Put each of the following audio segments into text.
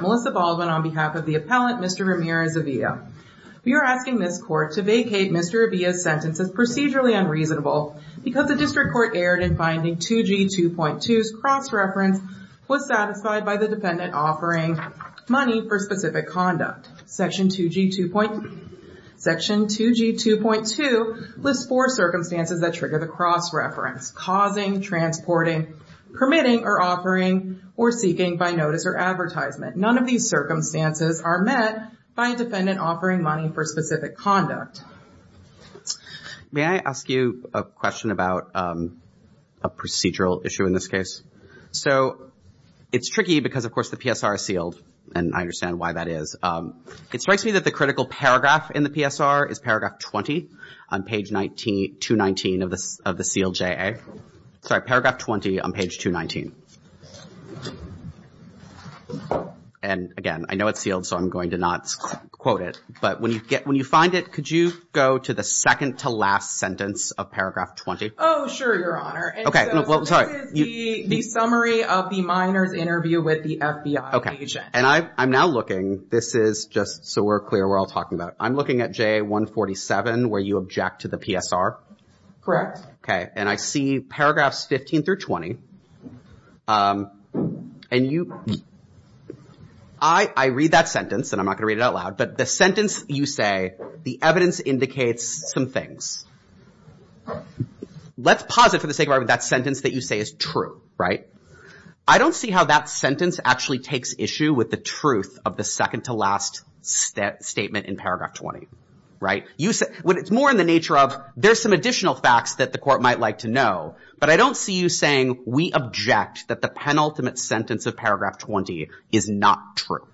Melissa Baldwin on behalf of the appellant Mr. Ramirez Avila we are asking this court to vacate Mr. Avila's sentence as procedurally unreasonable because the district court erred in finding 2g 2.2's cross-reference was satisfied by the defendant offering money for specific conduct may I ask you a question about a procedural issue in this case so it's tricky because of course the PSR is sealed and I understand why that is it strikes me that the critical paragraph in the PSR is paragraph 20 on page 19 219 of this of the sealed ja sorry paragraph 20 on page 219 and again I know it's sealed so I'm going to not quote it but when you get when you find it could you go to the second to last sentence of paragraph 20 oh sure your honor okay well sorry the summary of the minors interview with the FBI agent and I I'm now looking this is just so we're clear we're all talking about I'm looking at j147 where you object to the PSR correct okay and I see paragraphs 15 through 20 and you I I read that sentence and I'm not gonna read it out loud but the sentence you say the evidence indicates some things let's pause it for the sake of argument that sentence that you say is true right I don't see how that sentence actually takes issue with the truth of the second-to-last statement in paragraph 20 right you said when it's more in the nature of there's some additional facts that the court might like to know but I don't see you saying we object that the penultimate sentence of paragraph 20 is not true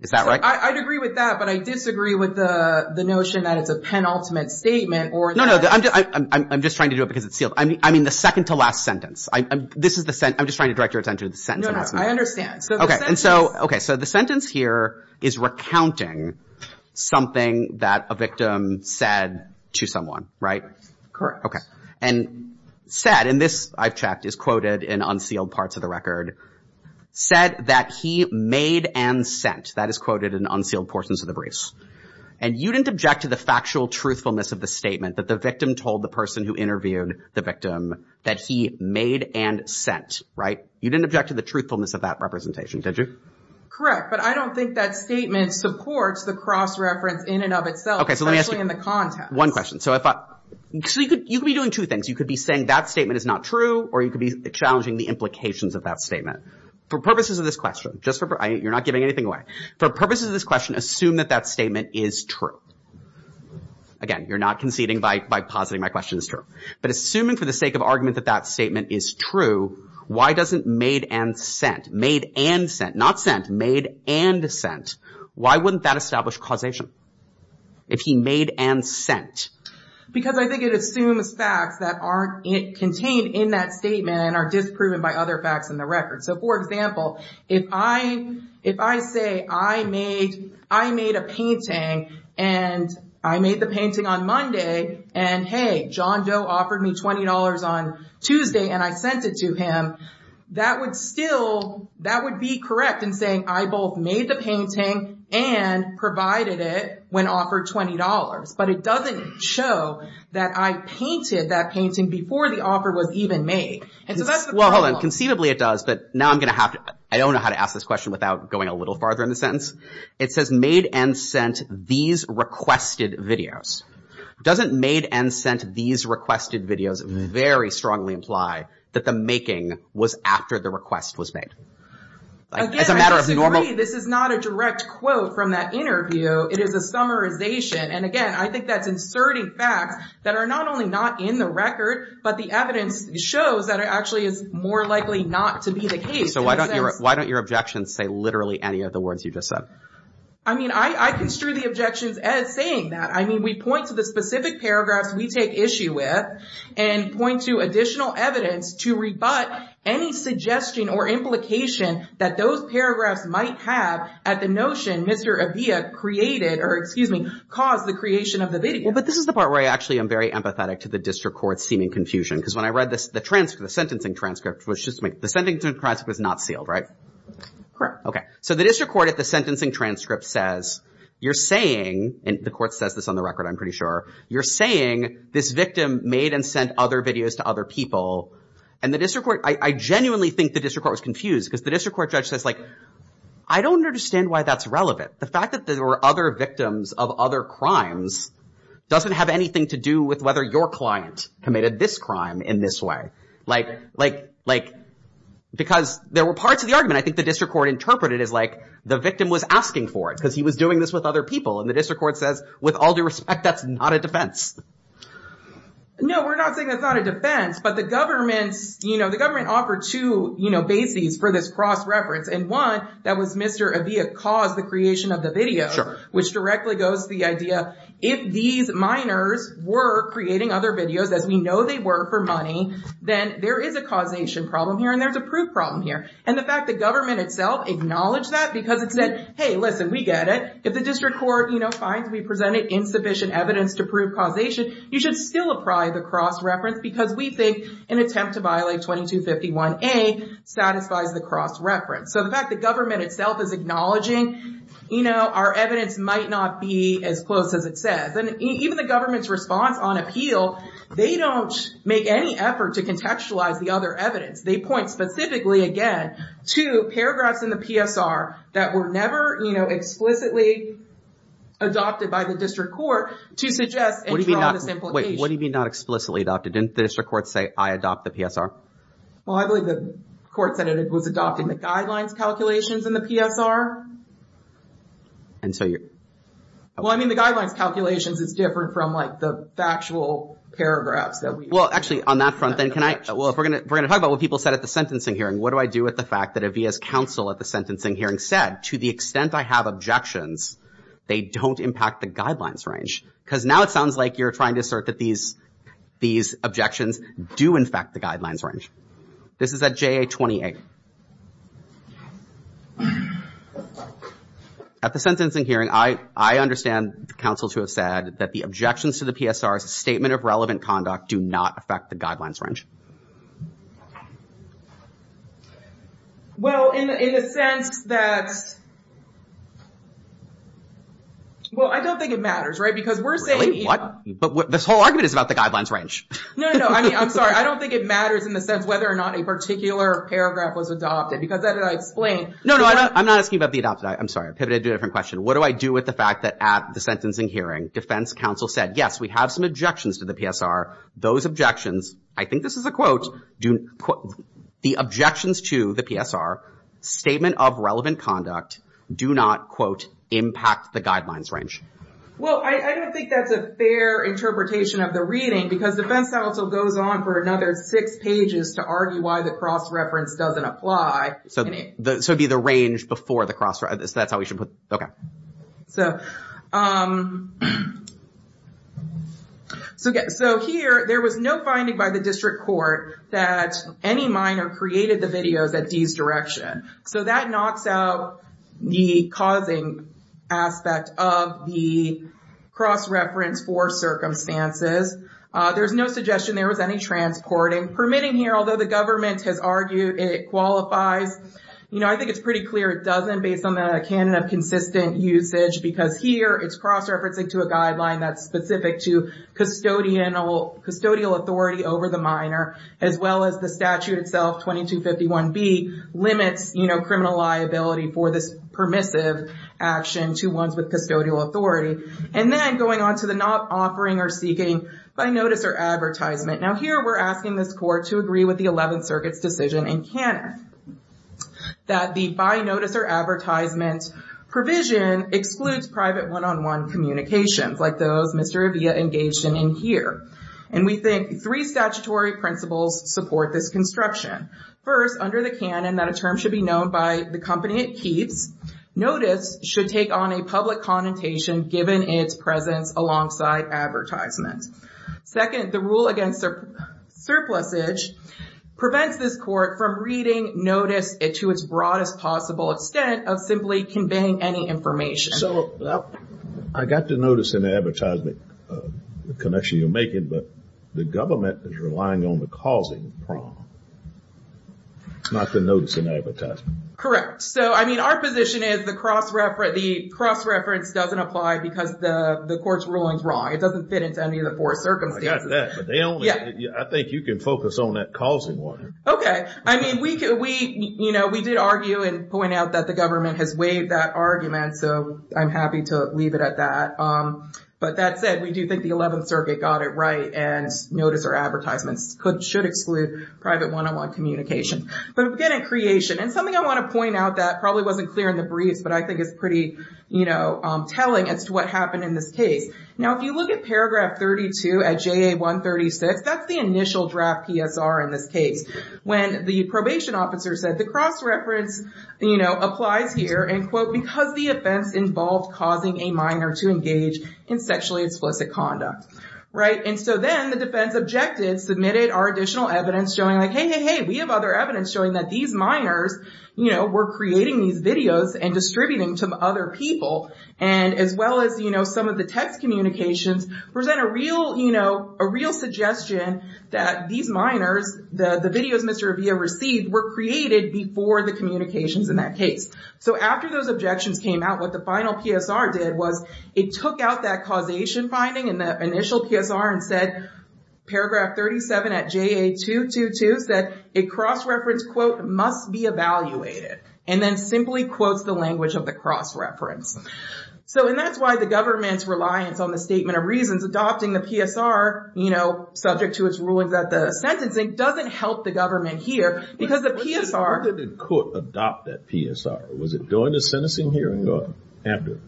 is that right I'd agree with that but I disagree with the the notion that it's a penultimate statement or no no I'm just trying to do it I mean I mean the second-to-last sentence I this is the scent I'm just trying to direct your attention to the sentence I understand okay and so okay so the sentence here is recounting something that a victim said to someone right okay and said and this I've checked is quoted in unsealed parts of the record said that he made and sent that is quoted in unsealed portions of the briefs and you didn't object to the factual truthfulness of the statement that the victim told the person who interviewed the victim that he made and sent right you didn't object to the truthfulness of that representation did you correct but I don't think that statement supports the cross-reference in and of itself okay so let me ask you in the context one question so I thought you could you could be doing two things you could be saying that statement is not true or you could be challenging the implications of that statement for purposes of this question just for you're not giving anything away for purposes of this question assume that that statement is true again you're not conceding by positing my question is true but assuming for the sake of argument that that statement is true why doesn't made and sent made and sent not sent made and sent why wouldn't that establish causation if he made and sent because I think it assumes facts that aren't it contained in that statement and are disproven by other facts in the record so for example if I if I say I made a painting and I made the painting on Monday and hey John Doe offered me $20 on Tuesday and I sent it to him that would still that would be correct in saying I both made the painting and provided it when offered $20 but it doesn't show that I painted that painting before the offer was even made and so that's well hold on conceivably it does but now I'm gonna have to I don't know how to ask this question without going a little farther in the sentence it says made and sent these requested videos doesn't made and sent these requested videos very strongly imply that the making was after the request was made this is not a direct quote from that interview it is a summarization and again I think that's inserting facts that are not only not in the record but the evidence shows that it actually is more likely not to be the case so why don't you why don't your objections say literally any of the words you just said I mean I I construe the objections as saying that I mean we point to the specific paragraphs we take issue with and point to additional evidence to rebut any suggestion or implication that those paragraphs might have at the notion mr. Avila created or excuse me caused the creation of the video but this is the part where I actually am very empathetic to the district court seeming confusion because when I read this the transfer the sentencing transcript was just make the sending to Christ was not sealed right okay so the district court at the sentencing transcript says you're saying and the court says this on the record I'm pretty sure you're saying this victim made and sent other videos to other people and the district court I genuinely think the district court was confused because the district court judge says like I don't understand why that's relevant the fact that there were other victims of other crimes doesn't have anything to do with whether your client committed this crime in this way like like like because there were parts of the argument I think the district court interpreted is like the victim was asking for it because he was doing this with other people and the district court says with all due respect that's not a defense no we're not saying that's not a defense but the government's you know the government offered to you know bases for this cross-reference and one that was mr. cause the creation of the video which directly goes to the idea if these minors were creating other videos as we know they were for money then there is a causation problem here and there's a proof problem here and the fact the government itself acknowledged that because it said hey listen we get it if the district court you know finds we presented insufficient evidence to prove causation you should still apply the cross-reference because we think an attempt to violate 2251 a satisfies the cross-reference so the fact the government itself is acknowledging you know our evidence might not be as close as it says and even the government's response on appeal they don't make any effort to contextualize the other evidence they point specifically again to paragraphs in the psr that were never you know explicitly adopted by the district court to suggest what do you mean not wait what do you mean not explicitly adopted didn't the district court say i adopt the psr well i believe the court said it was adopting the guidelines calculations in the psr and so you're well i mean the guidelines calculations is different from like the factual paragraphs that we well actually on that front then can i well if we're gonna we're gonna talk about what people said at the sentencing hearing what do i do with the fact that avia's counsel at the sentencing hearing said to the extent i have objections they don't impact the guidelines range because now it sounds like you're trying to assert that these these objections do in fact the guidelines range this is at ja 28 at the sentencing hearing i i understand the council to have said that the objections to the psr's statement of relevant conduct do not affect the guidelines range well in in a sense that well i don't think it matters right because we're saying what but this whole argument is about the guidelines range no no i mean i'm sorry i don't think it matters in the sense whether or not a particular paragraph was adopted because that did i explain no no i'm not asking about the adopted i'm sorry i pivoted to a different question what do i do with the fact that at the sentencing hearing defense counsel said yes we have some objections to the psr those objections i think this is a quote do the objections to the psr statement of relevant conduct do not affect the guidelines do not quote impact the guidelines range well i don't think that's a fair interpretation of the reading because defense counsel goes on for another six pages to argue why the cross reference doesn't apply so the so be the range before the cross so that's how we should put okay so um so again so here there was no finding by the district court that any minor created the videos at d's direction so that knocks out the causing aspect of the cross reference for circumstances there's no suggestion there was any transporting permitting here although the government has argued it qualifies you know i think it's pretty clear it doesn't based on the canon of consistent usage because here it's cross-referencing to a guideline that's specific to custodian or custodial authority over the minor as well as the statute itself 2251 b limits you know criminal liability for this permissive action to ones with custodial authority and then going on to the not offering or seeking by notice or advertisement now here we're asking this court to agree with the 11th circuit's decision in canon that the by notice or advertisement provision excludes private one-on-one communications like those mr avia engaged in in here and we think three statutory principles support this construction first under the canon that a term should be known by the company it keeps notice should take on a public connotation given its presence alongside advertisement second the rule against surplusage prevents this court from reading notice it to its broadest extent of simply conveying any information so i got to notice in the advertisement the connection you're making but the government is relying on the causing prong not to notice an advertisement correct so i mean our position is the cross reference the cross reference doesn't apply because the the court's rulings wrong it doesn't fit into any of the four circumstances i think you can focus on that causing one okay i mean we could we you know we did argue and point out that the government has waived that argument so i'm happy to leave it at that um but that said we do think the 11th circuit got it right and notice or advertisements could should exclude private one-on-one communication but again in creation and something i want to point out that probably wasn't clear in the briefs but i think it's pretty you know um telling as to what happened in this case now if you look at paragraph 32 at ja 136 that's the initial draft psr in this case when the probation officer said the cross reference you know applies here and quote because the offense involved causing a minor to engage in sexually explicit conduct right and so then the defense objected submitted our additional evidence showing like hey hey hey we have other evidence showing that these minors you know were creating these videos and distributing to other people and as well as you know some of the text communications present a real you know a real suggestion that these minors the the videos mr abia received were created before the communications in that case so after those objections came out what the final psr did was it took out that causation finding in the initial psr and said paragraph 37 at ja 222 said a cross reference quote must be evaluated and then simply quotes the language of the cross reference so and that's why the government's reliance on the statement of reasons adopting the psr you know subject to its rulings that the sentencing doesn't help the government here because the psr did court adopt that psr was it during the sentencing hearing or after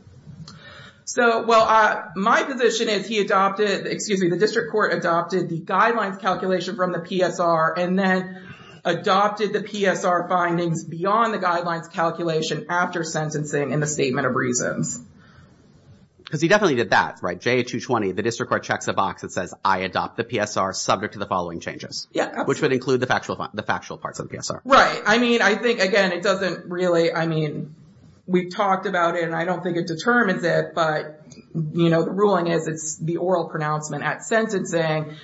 so well uh my position is he adopted excuse me the district court adopted the guidelines calculation from the psr and then adopted the psr findings beyond the guidelines calculation after sentencing in the statement of reasons because he definitely did that right j 220 the district court checks a box that says i adopt the psr subject to the following changes yeah which would include the factual the factual parts of the psr right i mean i think again it doesn't really i mean we've talked about it and i don't think it determines it but you know the ruling is it's the oral pronouncement at sentencing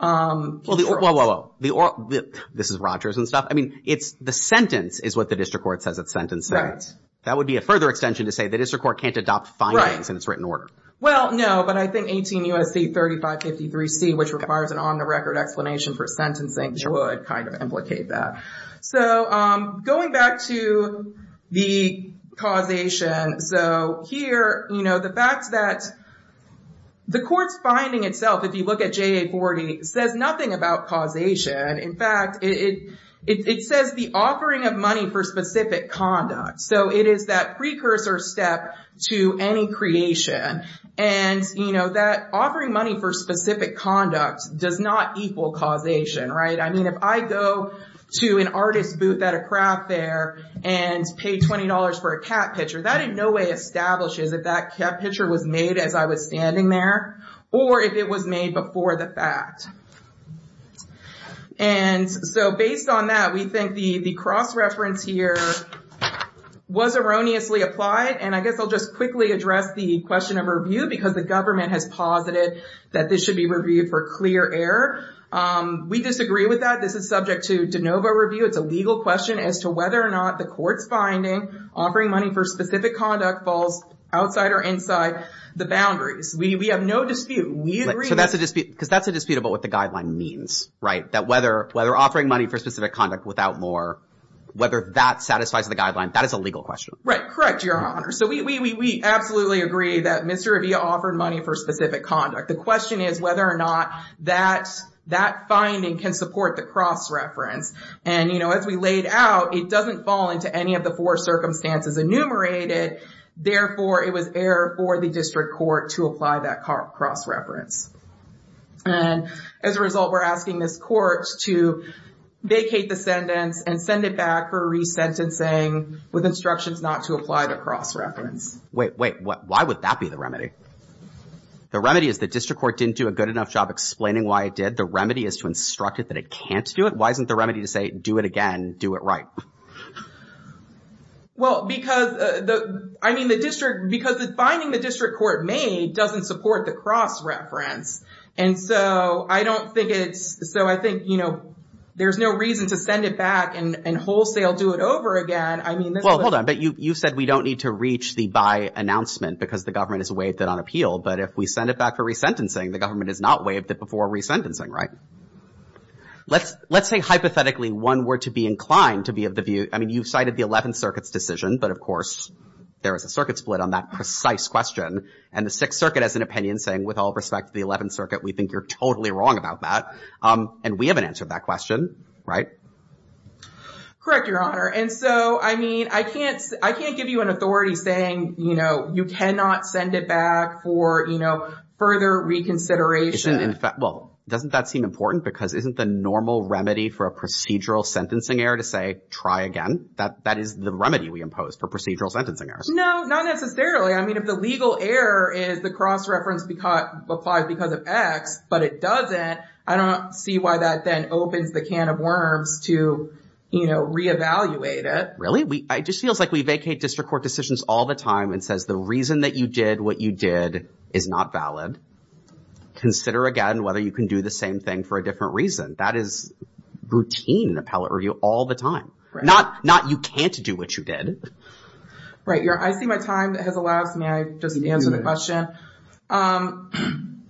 um this is rogers and stuff i mean it's the sentence is what the district court says it's sentencing that would be a further extension to say the district court can't adopt findings in its written order well no but i think 18 usc 35 53 c which requires an on-the-record explanation for sentencing would kind of implicate that so um going back to the causation so here you know the fact that the court's finding itself if you look at ja40 says nothing about causation in fact it it says the offering of money for specific conduct so it is that precursor step to any creation and you know that offering money for specific conduct does not equal causation right i mean if i go to an artist booth at a craft fair and pay 20 for a cat picture that in no way establishes if that cat picture was made as i was standing there or if it was made before the fact and so based on that we think the the cross-reference here was erroneously applied and i guess i'll just quickly address the question of review because the government has posited that this should be reviewed for clear air um we disagree with that this is subject to de novo review it's a legal question as to whether or not the court's finding offering money for specific conduct falls outside or inside the boundaries we have no dispute we agree so that's a dispute because that's a dispute about what the guideline means right that whether whether offering money for specific conduct without more whether that satisfies the guideline that is a so we we we absolutely agree that mr ravia offered money for specific conduct the question is whether or not that that finding can support the cross-reference and you know as we laid out it doesn't fall into any of the four circumstances enumerated therefore it was error for the district court to apply that cross-reference and as a result we're asking this court to vacate the and send it back for re-sentencing with instructions not to apply the cross-reference wait wait what why would that be the remedy the remedy is the district court didn't do a good enough job explaining why it did the remedy is to instruct it that it can't do it why isn't the remedy to say do it again do it right well because the i mean the district because finding the district court may doesn't support the cross-reference and so i don't think it's so i think you know there's no reason to send it back and and wholesale do it over again i mean well hold on but you you said we don't need to reach the by announcement because the government has waived it on appeal but if we send it back for re-sentencing the government has not waived it before re-sentencing right let's let's say hypothetically one were to be inclined to be of the view i mean you've cited the 11th circuit's decision but of course there is a circuit split on that precise question and the sixth circuit has an opinion saying with all respect to the 11th you're totally wrong about that um and we haven't answered that question right correct your honor and so i mean i can't i can't give you an authority saying you know you cannot send it back for you know further reconsideration well doesn't that seem important because isn't the normal remedy for a procedural sentencing error to say try again that that is the remedy we impose for procedural sentencing errors no not necessarily i mean if the legal error is the cross-reference applies because of x but it doesn't i don't see why that then opens the can of worms to you know re-evaluate it really we it just feels like we vacate district court decisions all the time and says the reason that you did what you did is not valid consider again whether you can do the same thing for a different reason that is routine in appellate review all the time not not you can't do what you did right your i see my time that has allowed me i just answered the question um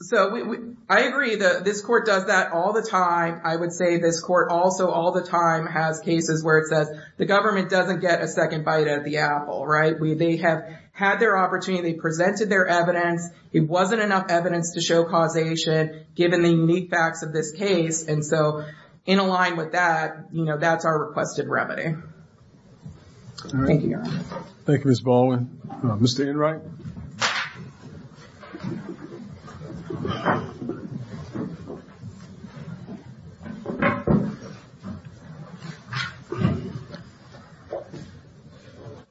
so i agree that this court does that all the time i would say this court also all the time has cases where it says the government doesn't get a second bite at the apple right we they have had their opportunity presented their evidence it wasn't enough evidence to show causation given the unique facts of this case and so in align with that you know that's our requested remedy thank you thank you miss baldwin mr enright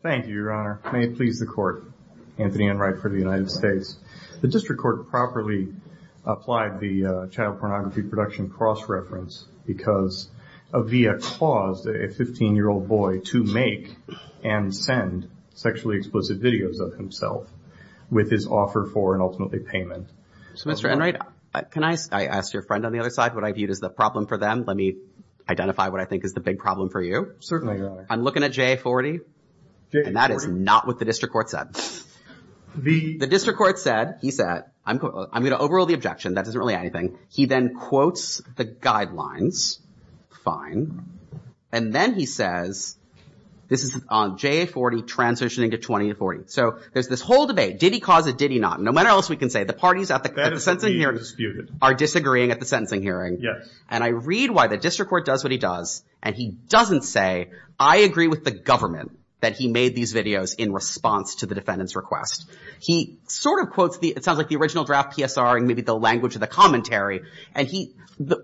thank you your honor may it please the court anthony enright for the united states the district court properly applied the child pornography production cross-reference because a via paused a 15 year old boy to make and send sexually explicit videos of himself with his offer for an ultimately payment so mr enright can i ask your friend on the other side what i viewed as the problem for them let me identify what i think is the big problem for you certainly i'm looking at j40 and that is not what the district court said the district court said he said i'm going to overrule the objection that doesn't really anything he then quotes the guidelines fine and then he says this is on j40 transitioning to 20 to 40 so there's this whole debate did he cause it did he not no matter else we can say the parties at the at the sentencing hearing are disagreeing at the sentencing hearing yes and i read why the district court does what he does and he doesn't say i agree with the government that he made these videos in response to the defendant's request he sort of quotes the it sounds like the original draft psr maybe the language of the commentary and he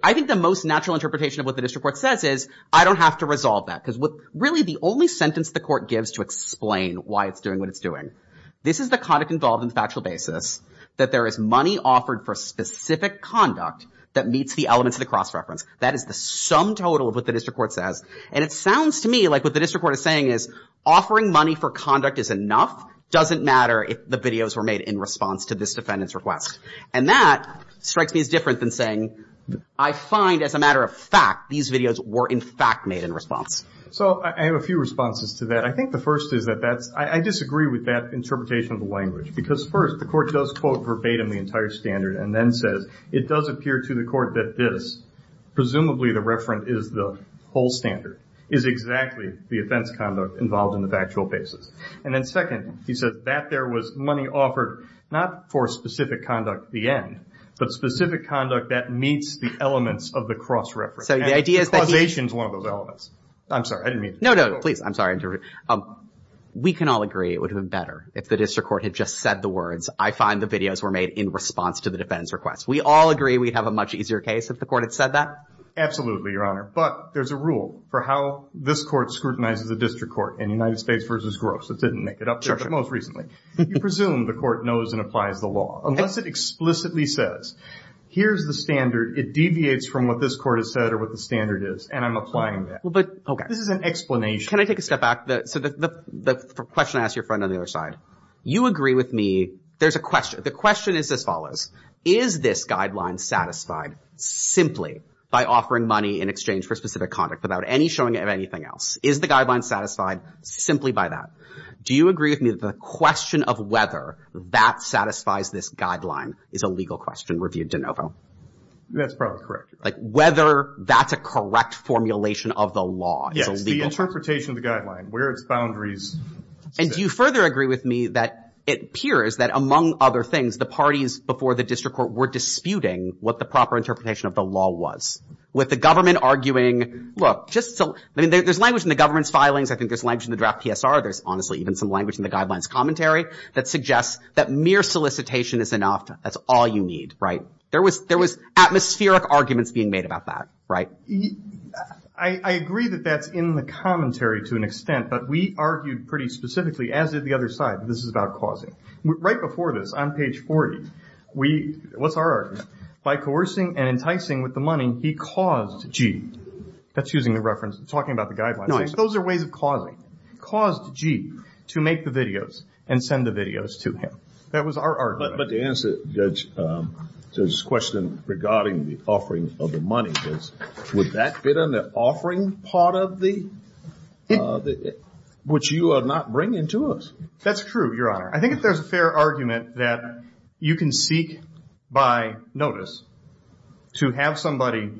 i think the most natural interpretation of what the district court says is i don't have to resolve that because what really the only sentence the court gives to explain why it's doing what it's doing this is the conduct involved in the factual basis that there is money offered for specific conduct that meets the elements of the cross reference that is the sum total of what the district court says and it sounds to me like what the district court is saying is offering money for conduct is enough doesn't matter if the videos were made in response to this defendant's request and that strikes me as different than saying i find as a matter of fact these videos were in fact made in response so i have a few responses to that i think the first is that that's i disagree with that interpretation of the language because first the court does quote verbatim the entire standard and then says it does appear to the court that this presumably the referent is the whole standard is exactly the offense conduct involved in the factual basis and then second he says that there was money offered not for specific conduct the end but specific conduct that meets the elements of the cross reference so the idea is causation is one of those elements i'm sorry i didn't mean no no please i'm sorry um we can all agree it would have been better if the district court had just said the words i find the videos were made in response to the defense request we all agree we'd have a much easier case if the court had said that absolutely your honor but there's a rule for how this court scrutinizes the district court in united states versus gross it didn't make it up most recently you presume the court knows and applies the law unless it explicitly says here's the standard it deviates from what this court has said or what the standard is and i'm applying that well but okay this is an explanation can i take a step back the so the the question i asked your friend on the other side you agree with me there's a question the question is as follows is this guideline satisfied simply by offering money in exchange for specific conduct without any showing of anything else is the guideline satisfied simply by that do you agree with me the question of whether that satisfies this guideline is a legal question reviewed de novo that's probably correct like whether that's a correct formulation of the law yes the interpretation of the guideline where its boundaries and do you further agree with me that it appears that among other things the parties before the district court were disputing what the proper interpretation of the law was with the government arguing look just so i mean there's language in the government's filings i think there's language in the draft psr there's honestly even some language in the guidelines commentary that suggests that mere solicitation is enough that's all you need right there was there was atmospheric arguments being made about that right i i agree that that's in the commentary to an extent but we argued pretty specifically as did the other side this is about causing right before this on page 40 we what's our argument by coercing and enticing with the money he caused g that's using the reference talking about the guidelines those are ways of causing caused g to make the videos and send the videos to him that was our argument but to answer judge um so this question regarding the offering of the money is would that fit on the offering part of the uh the which you not bring into us that's true your honor i think if there's a fair argument that you can seek by notice to have somebody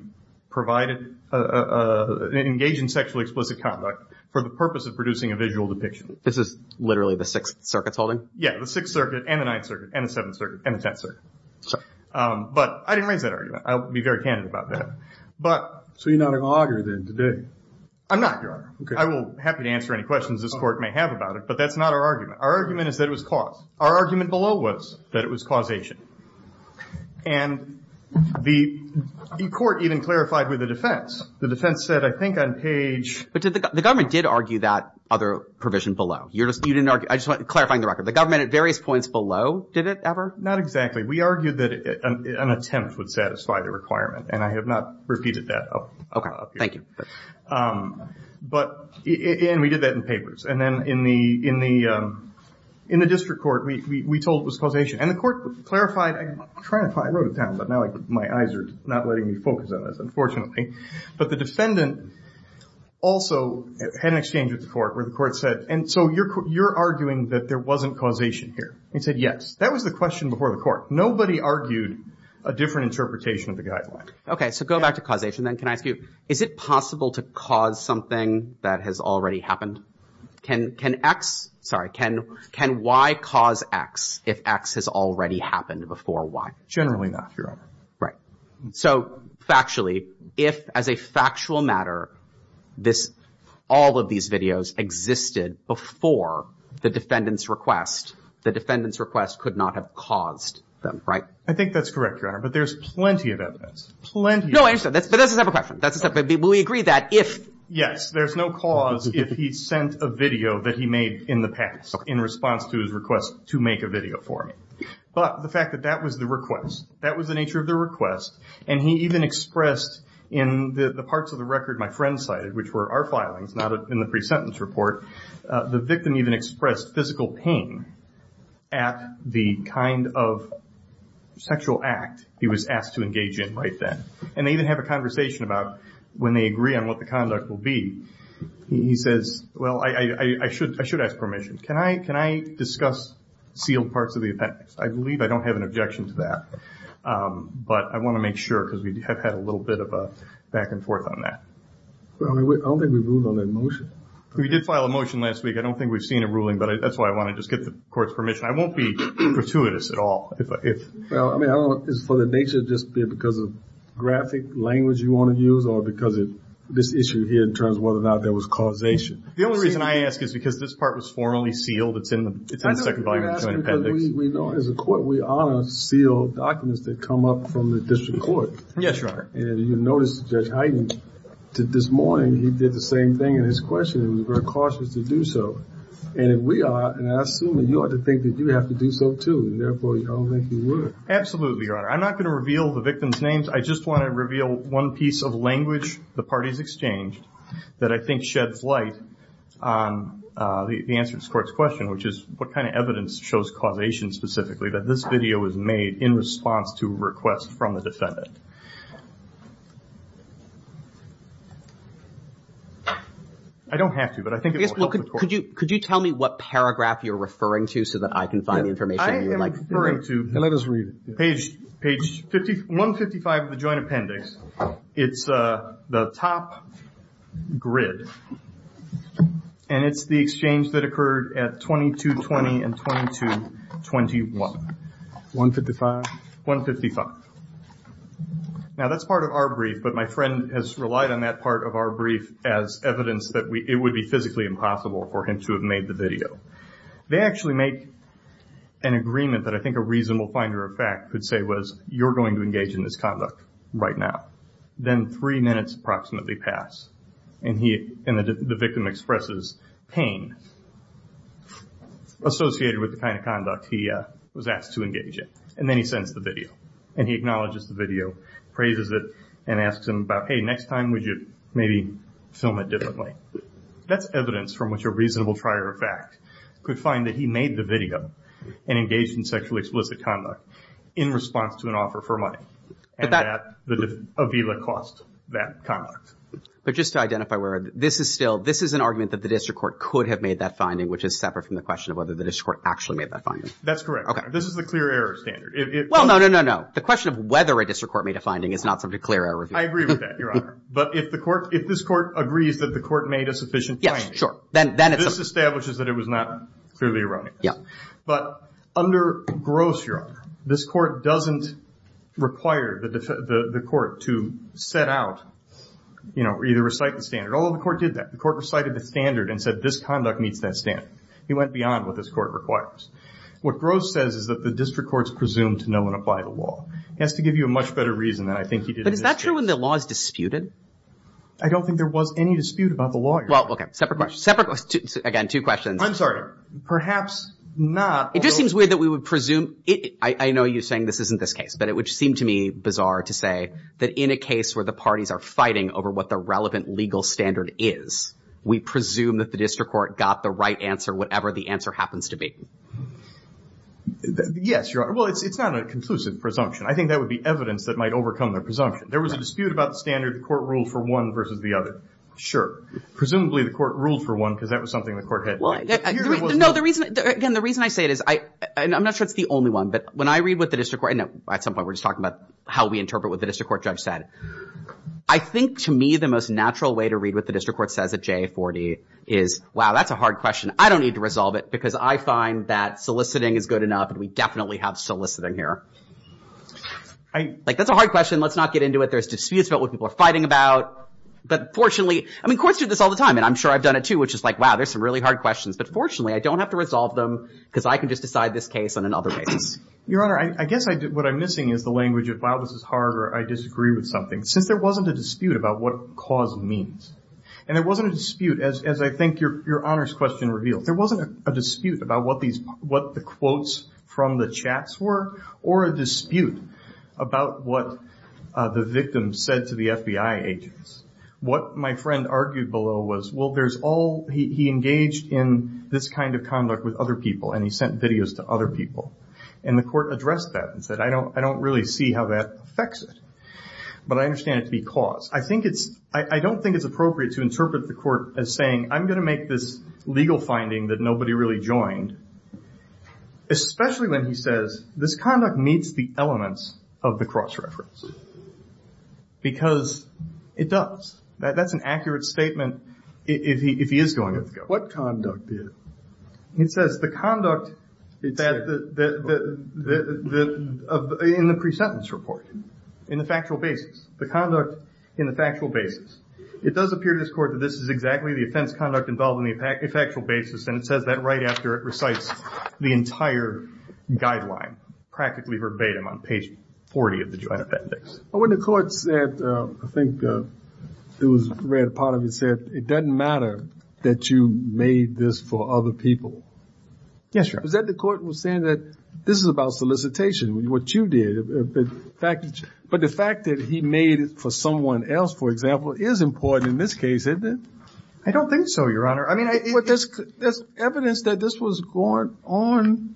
provided a engage in sexually explicit conduct for the purpose of producing a visual depiction this is literally the sixth circuit's holding yeah the sixth circuit and the ninth circuit and the seventh circuit and the tenth circuit but i didn't raise that argument i'll be very candid about that but so you're not an auger then today i'm not your honor okay i will happy to answer any questions this court may have about it but that's not our argument our argument is that it was caused our argument below was that it was causation and the court even clarified with the defense the defense said i think on page but the government did argue that other provision below you're just you didn't argue i just want clarifying the record the government at various points below did it ever not exactly we argued that an attempt would satisfy the requirement and i have not repeated that okay thank you um but and we did that in papers and then in the in the um in the district court we we told it was causation and the court clarified i'm trying to find wrote it down but now my eyes are not letting me focus on this unfortunately but the defendant also had an exchange with the court where the court said and so you're you're arguing that there wasn't causation here he said yes that was the question before the court nobody argued a different interpretation of the guideline okay so go back to causation then can i ask you is it possible to cause something that has already happened can can x sorry can can y cause x if x has already happened before y generally not your honor right so factually if as a factual matter this all of these videos existed before the defendant's request the defendant's request could not have caused them right i think that's correct your honor but there's plenty of evidence plenty no answer that's but that's a separate question that's a step but we agree that if yes there's no cause if he sent a video that he made in the past in response to his request to make a video for me but the fact that that was the request that was the nature of the request and he even expressed in the the parts of the record my friend cited which were our filings not in the pre-sentence report the victim even expressed physical pain at the kind of sexual act he was asked to engage in right then and they even have a conversation about when they agree on what the conduct will be he says well i i should i should ask permission can i can i discuss sealed parts of the appendix i believe i don't have an objection to that um but i want to make sure because we have had a little bit of a back and forth on that well i mean i don't think we ruled on that motion we did file a motion last week i don't think we've seen a ruling but that's why i want to just get the court's permission i won't be gratuitous at all if i if well i mean i don't know it's for the nature of just because of graphic language you want to use or because of this issue here in terms of whether or not there was causation the only reason i ask is because this part was formally sealed it's in the it's in the second volume we know as a court we honor sealed documents that come up from the district court yes your honor and you noticed judge heiden did this morning he did the same thing in his questioning he was very cautious to do so and if we are and i assume that you ought to think that you have to do so too and therefore you don't think you would absolutely your honor i'm not going to reveal the victim's names i just want to reveal one piece of language the parties exchanged that i think sheds light on uh the answer to the court's question which is what kind of evidence shows causation specifically that this video is made in response to a request from the defendant i don't have to but i think yes look could you could you tell me what paragraph you're referring to so that i can find the information you would like referring to let us read it page page 50 155 of the joint appendix it's uh the top grid and it's the exchange that occurred at 22 20 and 22 21 155 155 now that's part of our brief but my friend has relied on that part of our brief as evidence that we it would be physically impossible for him to have made the video they actually make an agreement that i think a reasonable finder of fact could say was you're going to engage in this conduct right now then three minutes approximately pass and he and the victim expresses pain associated with the kind of conduct he uh was asked to engage in and then he sends the video and he acknowledges the video praises it and asks him about hey next time would you maybe film it differently that's evidence from which a reasonable trier of fact could find that he made the video and engaged in sexually explicit conduct in response to an offer for money and that avila cost that conduct but just to identify where this is still this is an argument that the district court could have made that finding which is separate from the question of whether the district court actually made that finding that's correct okay this is the clear error standard well no no no no the question of whether a district court made a finding is not such a clear error i agree with that your honor but if the court if this court agrees that the court made a sufficient yes sure then then this establishes that it was not clearly erroneous yeah but under gross your honor this court doesn't require the the court to set out you know either recite the standard although the court did that the court recited the standard and said this conduct meets that standard he went beyond what this court requires what gross says is that the district courts presume to know and apply the law he has to give you a much better reason than i think he did is that true when the law is disputed i don't think there was any dispute about the law well okay separate questions again two questions i'm sorry perhaps not it just seems weird that we would presume it i i know you're saying this isn't this case but it would seem to me bizarre to say that in a case where the parties are fighting over what the relevant legal standard is we presume that the district court got the right answer whatever the answer happens to be yes your honor well it's it's not a conclusive presumption i think that would be evidence that might overcome their presumption there was a dispute about the standard court ruled for one versus the other sure presumably the court ruled for one because that was something the court had well no the reason again the reason i say it is i and i'm not sure it's the only one but when i read what the district court no at some point we're just talking about how we interpret what the district court judge said i think to me the most natural way to read what the district court says at j40 is wow that's a hard question i don't need to resolve it because i find that soliciting is good enough and we definitely have soliciting here i like that's a hard question let's not get into it there's disputes about what people are fighting about but fortunately i mean courts do this all the time and i'm sure i've done it too which is like wow there's some really hard questions but fortunately i don't have to resolve them because i can just decide this case on another basis your honor i guess i did what i'm missing is the language of wow this is hard or i disagree with something since there wasn't a dispute about what cause means and it wasn't a dispute as as i think your your honor's question revealed there wasn't a dispute about what the quotes from the chats were or a dispute about what the victim said to the fbi agents what my friend argued below was well there's all he engaged in this kind of conduct with other people and he sent videos to other people and the court addressed that and said i don't i don't really see how that affects it but i understand it to be caused i think it's i don't think it's appropriate to interpret the court as saying i'm going to make this legal finding that nobody really joined especially when he says this conduct meets the elements of the cross-reference because it does that's an accurate statement if he if he is going to what conduct did he says the conduct that the the the the in the pre-sentence report in the factual basis the conduct in the factual basis it does appear to this court that this is exactly the offense conduct involved in the effectual basis and it says that right after it recites the entire guideline practically verbatim on page 40 of the joint appendix when the court said i think it was read a part of it said it doesn't matter that you made this for other people yes is that the court was saying that this is about solicitation what you did but the fact that he made it for someone else for example is important in this case isn't it i don't think so your honor i mean this evidence that this was going on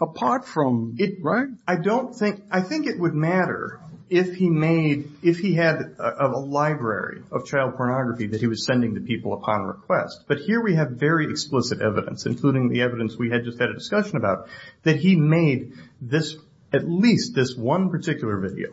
apart from it right i don't think i think it would matter if he made if he had a library of child pornography that he was sending to people upon request but here we have very explicit evidence including the evidence we had just had a discussion about that he made this at least this one particular video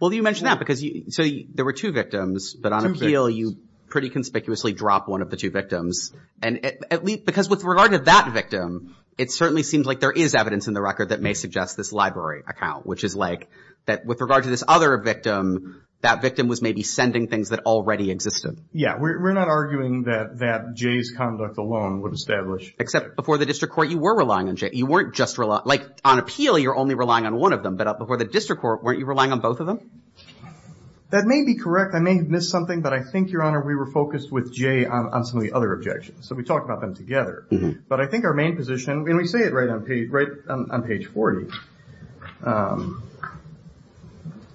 well you mentioned that because you so there were two victims but on appeal you pretty conspicuously drop one of the two victims and at least because with regard to that victim it certainly seems like there is evidence in the record that may suggest this library account which is like that with regard to this other victim that victim was maybe sending things that already existed yeah we're not arguing that that jay's conduct alone would establish except before the district court you were relying on jay you weren't just rely like on appeal you're only relying on one of them but before the district court weren't you relying on both of them that may be correct i may have missed something but i think your honor we were focused with jay on some of the other objections so we talked about them together but i think our main position when we say it right on page right on page 40 um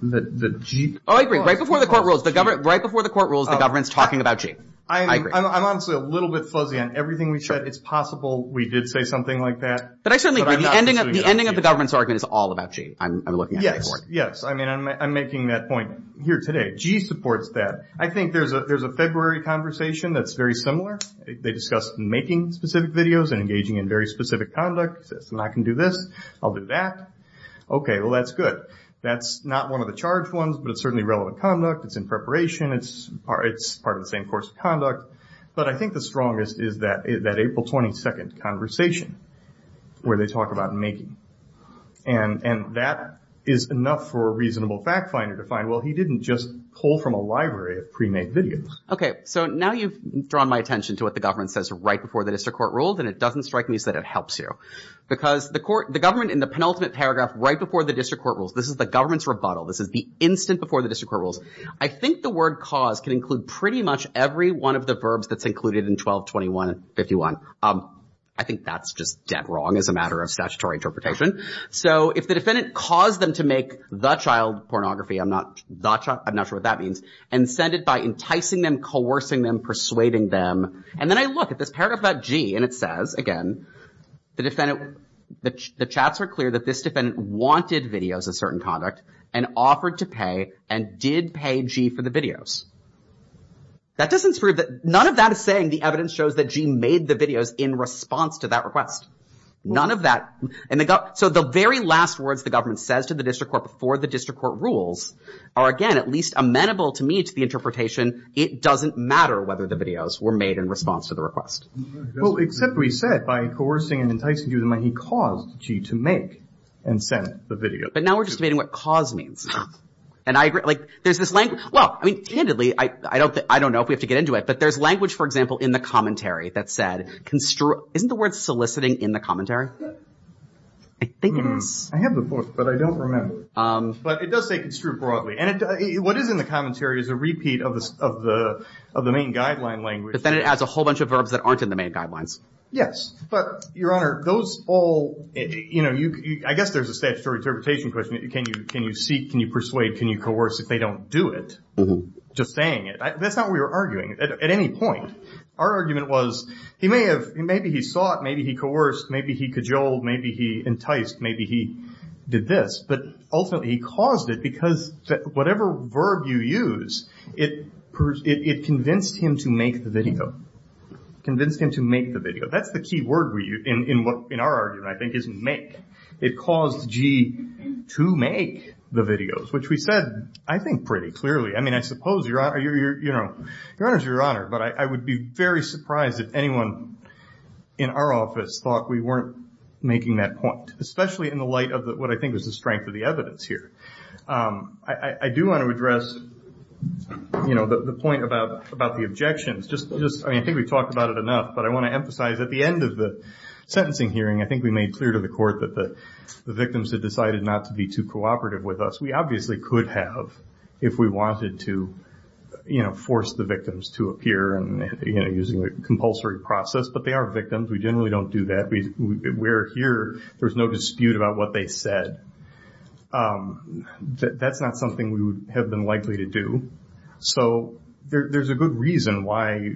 the the g oh i agree right before the court rules the government right before the court rules the government's talking about g i agree i'm honestly a little bit fuzzy on everything we said it's possible we did say something like that but i certainly agree the ending of the ending of the government's argument is all about g i'm looking yes i mean i'm making that point here today g supports that i think there's a there's a february conversation that's very similar they discussed making specific videos and engaging in very specific conduct says and i can do this i'll do that okay well that's good that's not one of the charged ones but it's certainly relevant conduct it's in preparation it's part it's part of the same course of conduct but i think the strongest is that that april 22nd conversation where they talk about making and and that is enough for a reasonable fact finder to find well he didn't just pull from a library of pre-made videos okay so now you've drawn my attention to what the government says right before the district court ruled and it doesn't strike me that it helps you because the court the government in the penultimate paragraph right before the district court rules this is the government's rebuttal this is the instant before the district rules i think the word cause can include pretty much every one of the verbs that's included in 12 21 51 um i think that's just dead wrong as a matter of statutory interpretation so if the defendant caused them to make the child pornography i'm not that i'm not sure what that means and send it by enticing them coercing them persuading them and then i look at this paragraph about g and it says again the defendant the chats are clear that this defendant wanted videos of certain conduct and offered to pay and did pay g for the videos that doesn't prove that none of that is saying the evidence shows that g made the videos in response to that request none of that and they got so the very last words the government says to the district court before the district court rules are again at least amenable to me to the interpretation it doesn't matter whether the videos were made in response to the request well except we said by coercing and enticing you the way he caused g to make and send the video but now we're just debating what cause means and i agree like there's this language well i mean candidly i i don't think i don't know if we have but there's language for example in the commentary that said construe isn't the word soliciting in the commentary i think it is i have the book but i don't remember um but it does say construed broadly and what is in the commentary is a repeat of the of the of the main guideline language but then it adds a whole bunch of verbs that aren't in the main guidelines yes but your honor those all you know you i guess there's a statutory interpretation question can you can you seek can you persuade can you coerce if they don't do it just saying it that's not what we are arguing at any point our argument was he may have maybe he saw it maybe he coerced maybe he cajoled maybe he enticed maybe he did this but ultimately he caused it because whatever verb you use it it convinced him to make the video convinced him to make the video that's the key word where you in in what in our argument i think is make it caused g to make the videos which we i think pretty clearly i mean i suppose your honor you're you know your honor's your honor but i i would be very surprised if anyone in our office thought we weren't making that point especially in the light of what i think was the strength of the evidence here um i i do want to address you know the point about about the objections just just i mean i think we've talked about it enough but i want to emphasize at the end of the sentencing hearing i think we made clear to the court that the the victims had decided not to be too cooperative with us we obviously could have if we wanted to you know force the victims to appear and you know using a compulsory process but they are victims we generally don't do that we we're here there's no dispute about what they said um that's not something we would have been likely to do so there's a good reason why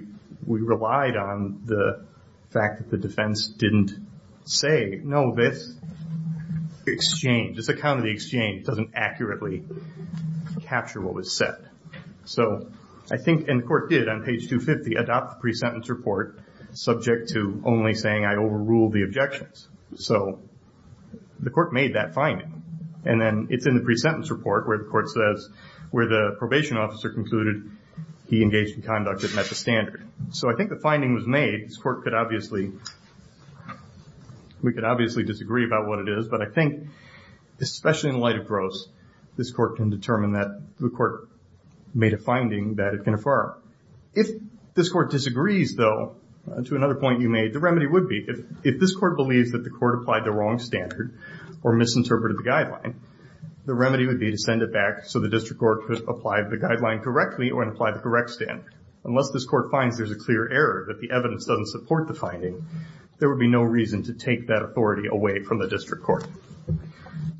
we relied on the fact that the defense didn't say no this exchange this account of the exchange doesn't accurately capture what was said so i think and court did on page 250 adopt the pre-sentence report subject to only saying i overruled the objections so the court made that finding and then it's in the pre-sentence report where the court says where the probation officer concluded he engaged in conduct that met the standard so i obviously disagree about what it is but i think especially in light of gross this court can determine that the court made a finding that it can affirm if this court disagrees though to another point you made the remedy would be if if this court believes that the court applied the wrong standard or misinterpreted the guideline the remedy would be to send it back so the district court could apply the guideline correctly or apply the correct standard unless this court finds there's a clear error that the evidence doesn't support the finding there would be no reason to take that authority away from the district court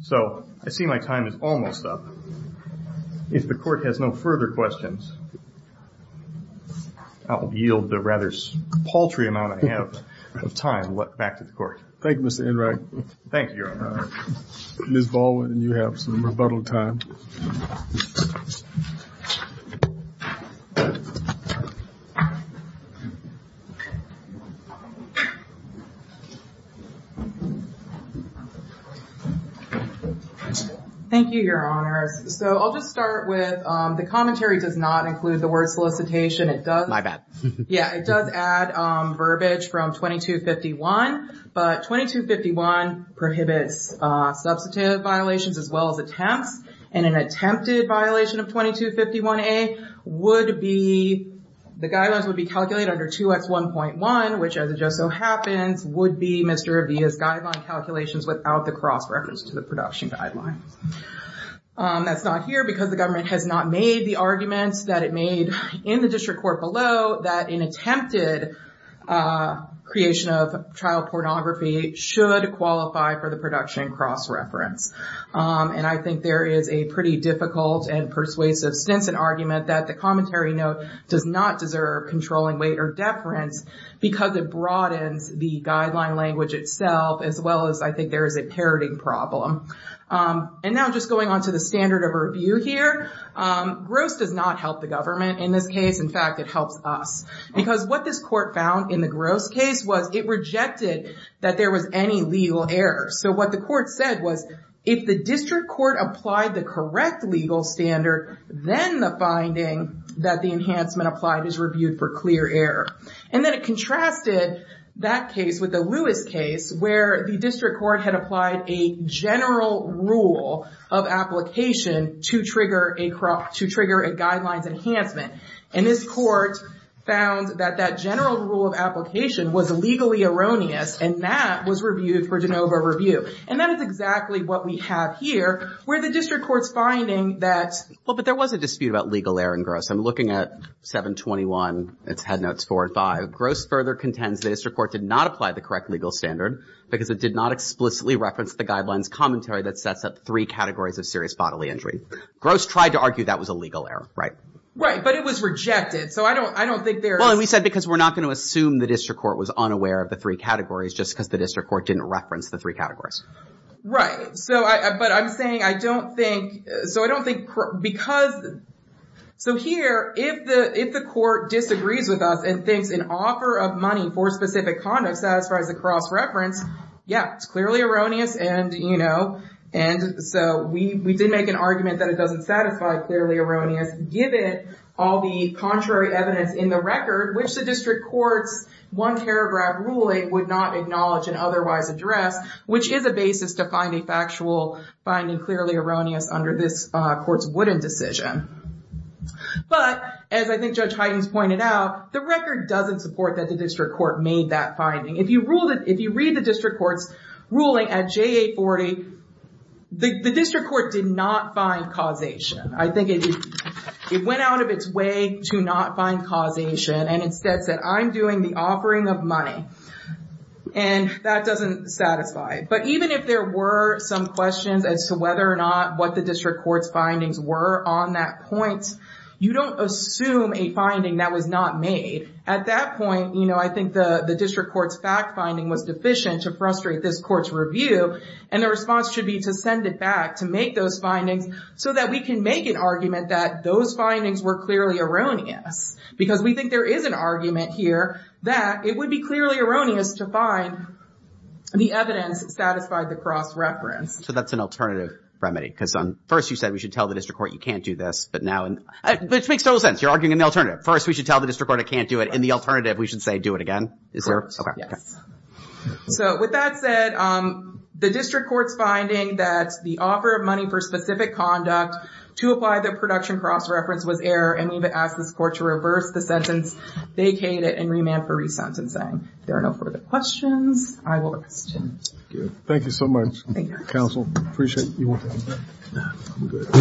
so i see my time is almost up if the court has no further questions i'll yield the rather paltry amount i have of time back to the court thank thank you your honor miss baldwin and you have some rebuttal time thank you your honors so i'll just start with um the commentary does not include the word prohibits uh substantive violations as well as attempts and an attempted violation of 22 51a would be the guidelines would be calculated under 2x 1.1 which as it just so happens would be mr abia's guideline calculations without the cross reference to the production guideline that's not here because the government has not made the arguments that it made in the district court below that an attempted uh creation of child pornography should qualify for the production cross-reference um and i think there is a pretty difficult and persuasive stints an argument that the commentary note does not deserve controlling weight or deference because it broadens the guideline language itself as well as i think there is a parroting problem and now just going on to the standard of review here um gross does not help the government in this case in fact it helps us because what this court found in the gross case was it rejected that there was any legal error so what the court said was if the district court applied the correct legal standard then the finding that the enhancement applied is reviewed for clear error and then it rule of application to trigger a crop to trigger a guidelines enhancement and this court found that that general rule of application was legally erroneous and that was reviewed for de novo review and that is exactly what we have here where the district court's finding that well but there was a dispute about legal error and gross i'm looking at 721 it's had notes four and five gross further contends the district court did not apply the correct legal standard because it did not explicitly reference the guidelines commentary that sets up three categories of serious bodily injury gross tried to argue that was a legal error right right but it was rejected so i don't i don't think there well we said because we're not going to assume the district court was unaware of the three categories just because the district court didn't reference the three categories right so i but i'm saying i don't think so i don't think because so here if the if the court disagrees with us and thinks an offer of money for specific conduct satisfies the cross reference yeah it's clearly erroneous and you know and so we we did make an argument that it doesn't satisfy clearly erroneous give it all the contrary evidence in the record which the district court's one paragraph ruling would not acknowledge and otherwise address which is a basis to find a factual finding clearly erroneous under this uh court's wooden decision but as i think judge heidens pointed out the record doesn't support that the district court made that finding if you rule that if you read the district court's ruling at j840 the district court did not find causation i think it went out of its way to not find causation and instead said i'm doing the offering of money and that doesn't satisfy but even if there were some questions as to whether or not what the district court's findings were on that point you don't assume a finding that was not made at that point you know i think the the district court's fact finding was deficient to frustrate this court's review and the response should be to send it back to make those findings so that we can make an argument that those findings were clearly erroneous because we think there is an argument here that it would be clearly erroneous to find the evidence satisfied the cross reference so that's an alternative remedy because on first you said we should tell the district court you can't do this but now and which makes total sense you're arguing an alternative first we should tell the district court i can't do it in the alternative we should say do it again is there so with that said um the district court's finding that the offer of money for specific conduct to apply the production cross reference was error and we've asked this court to reverse the sentence vacated and remand for resentencing there are no further questions i will question thank you so much council appreciate you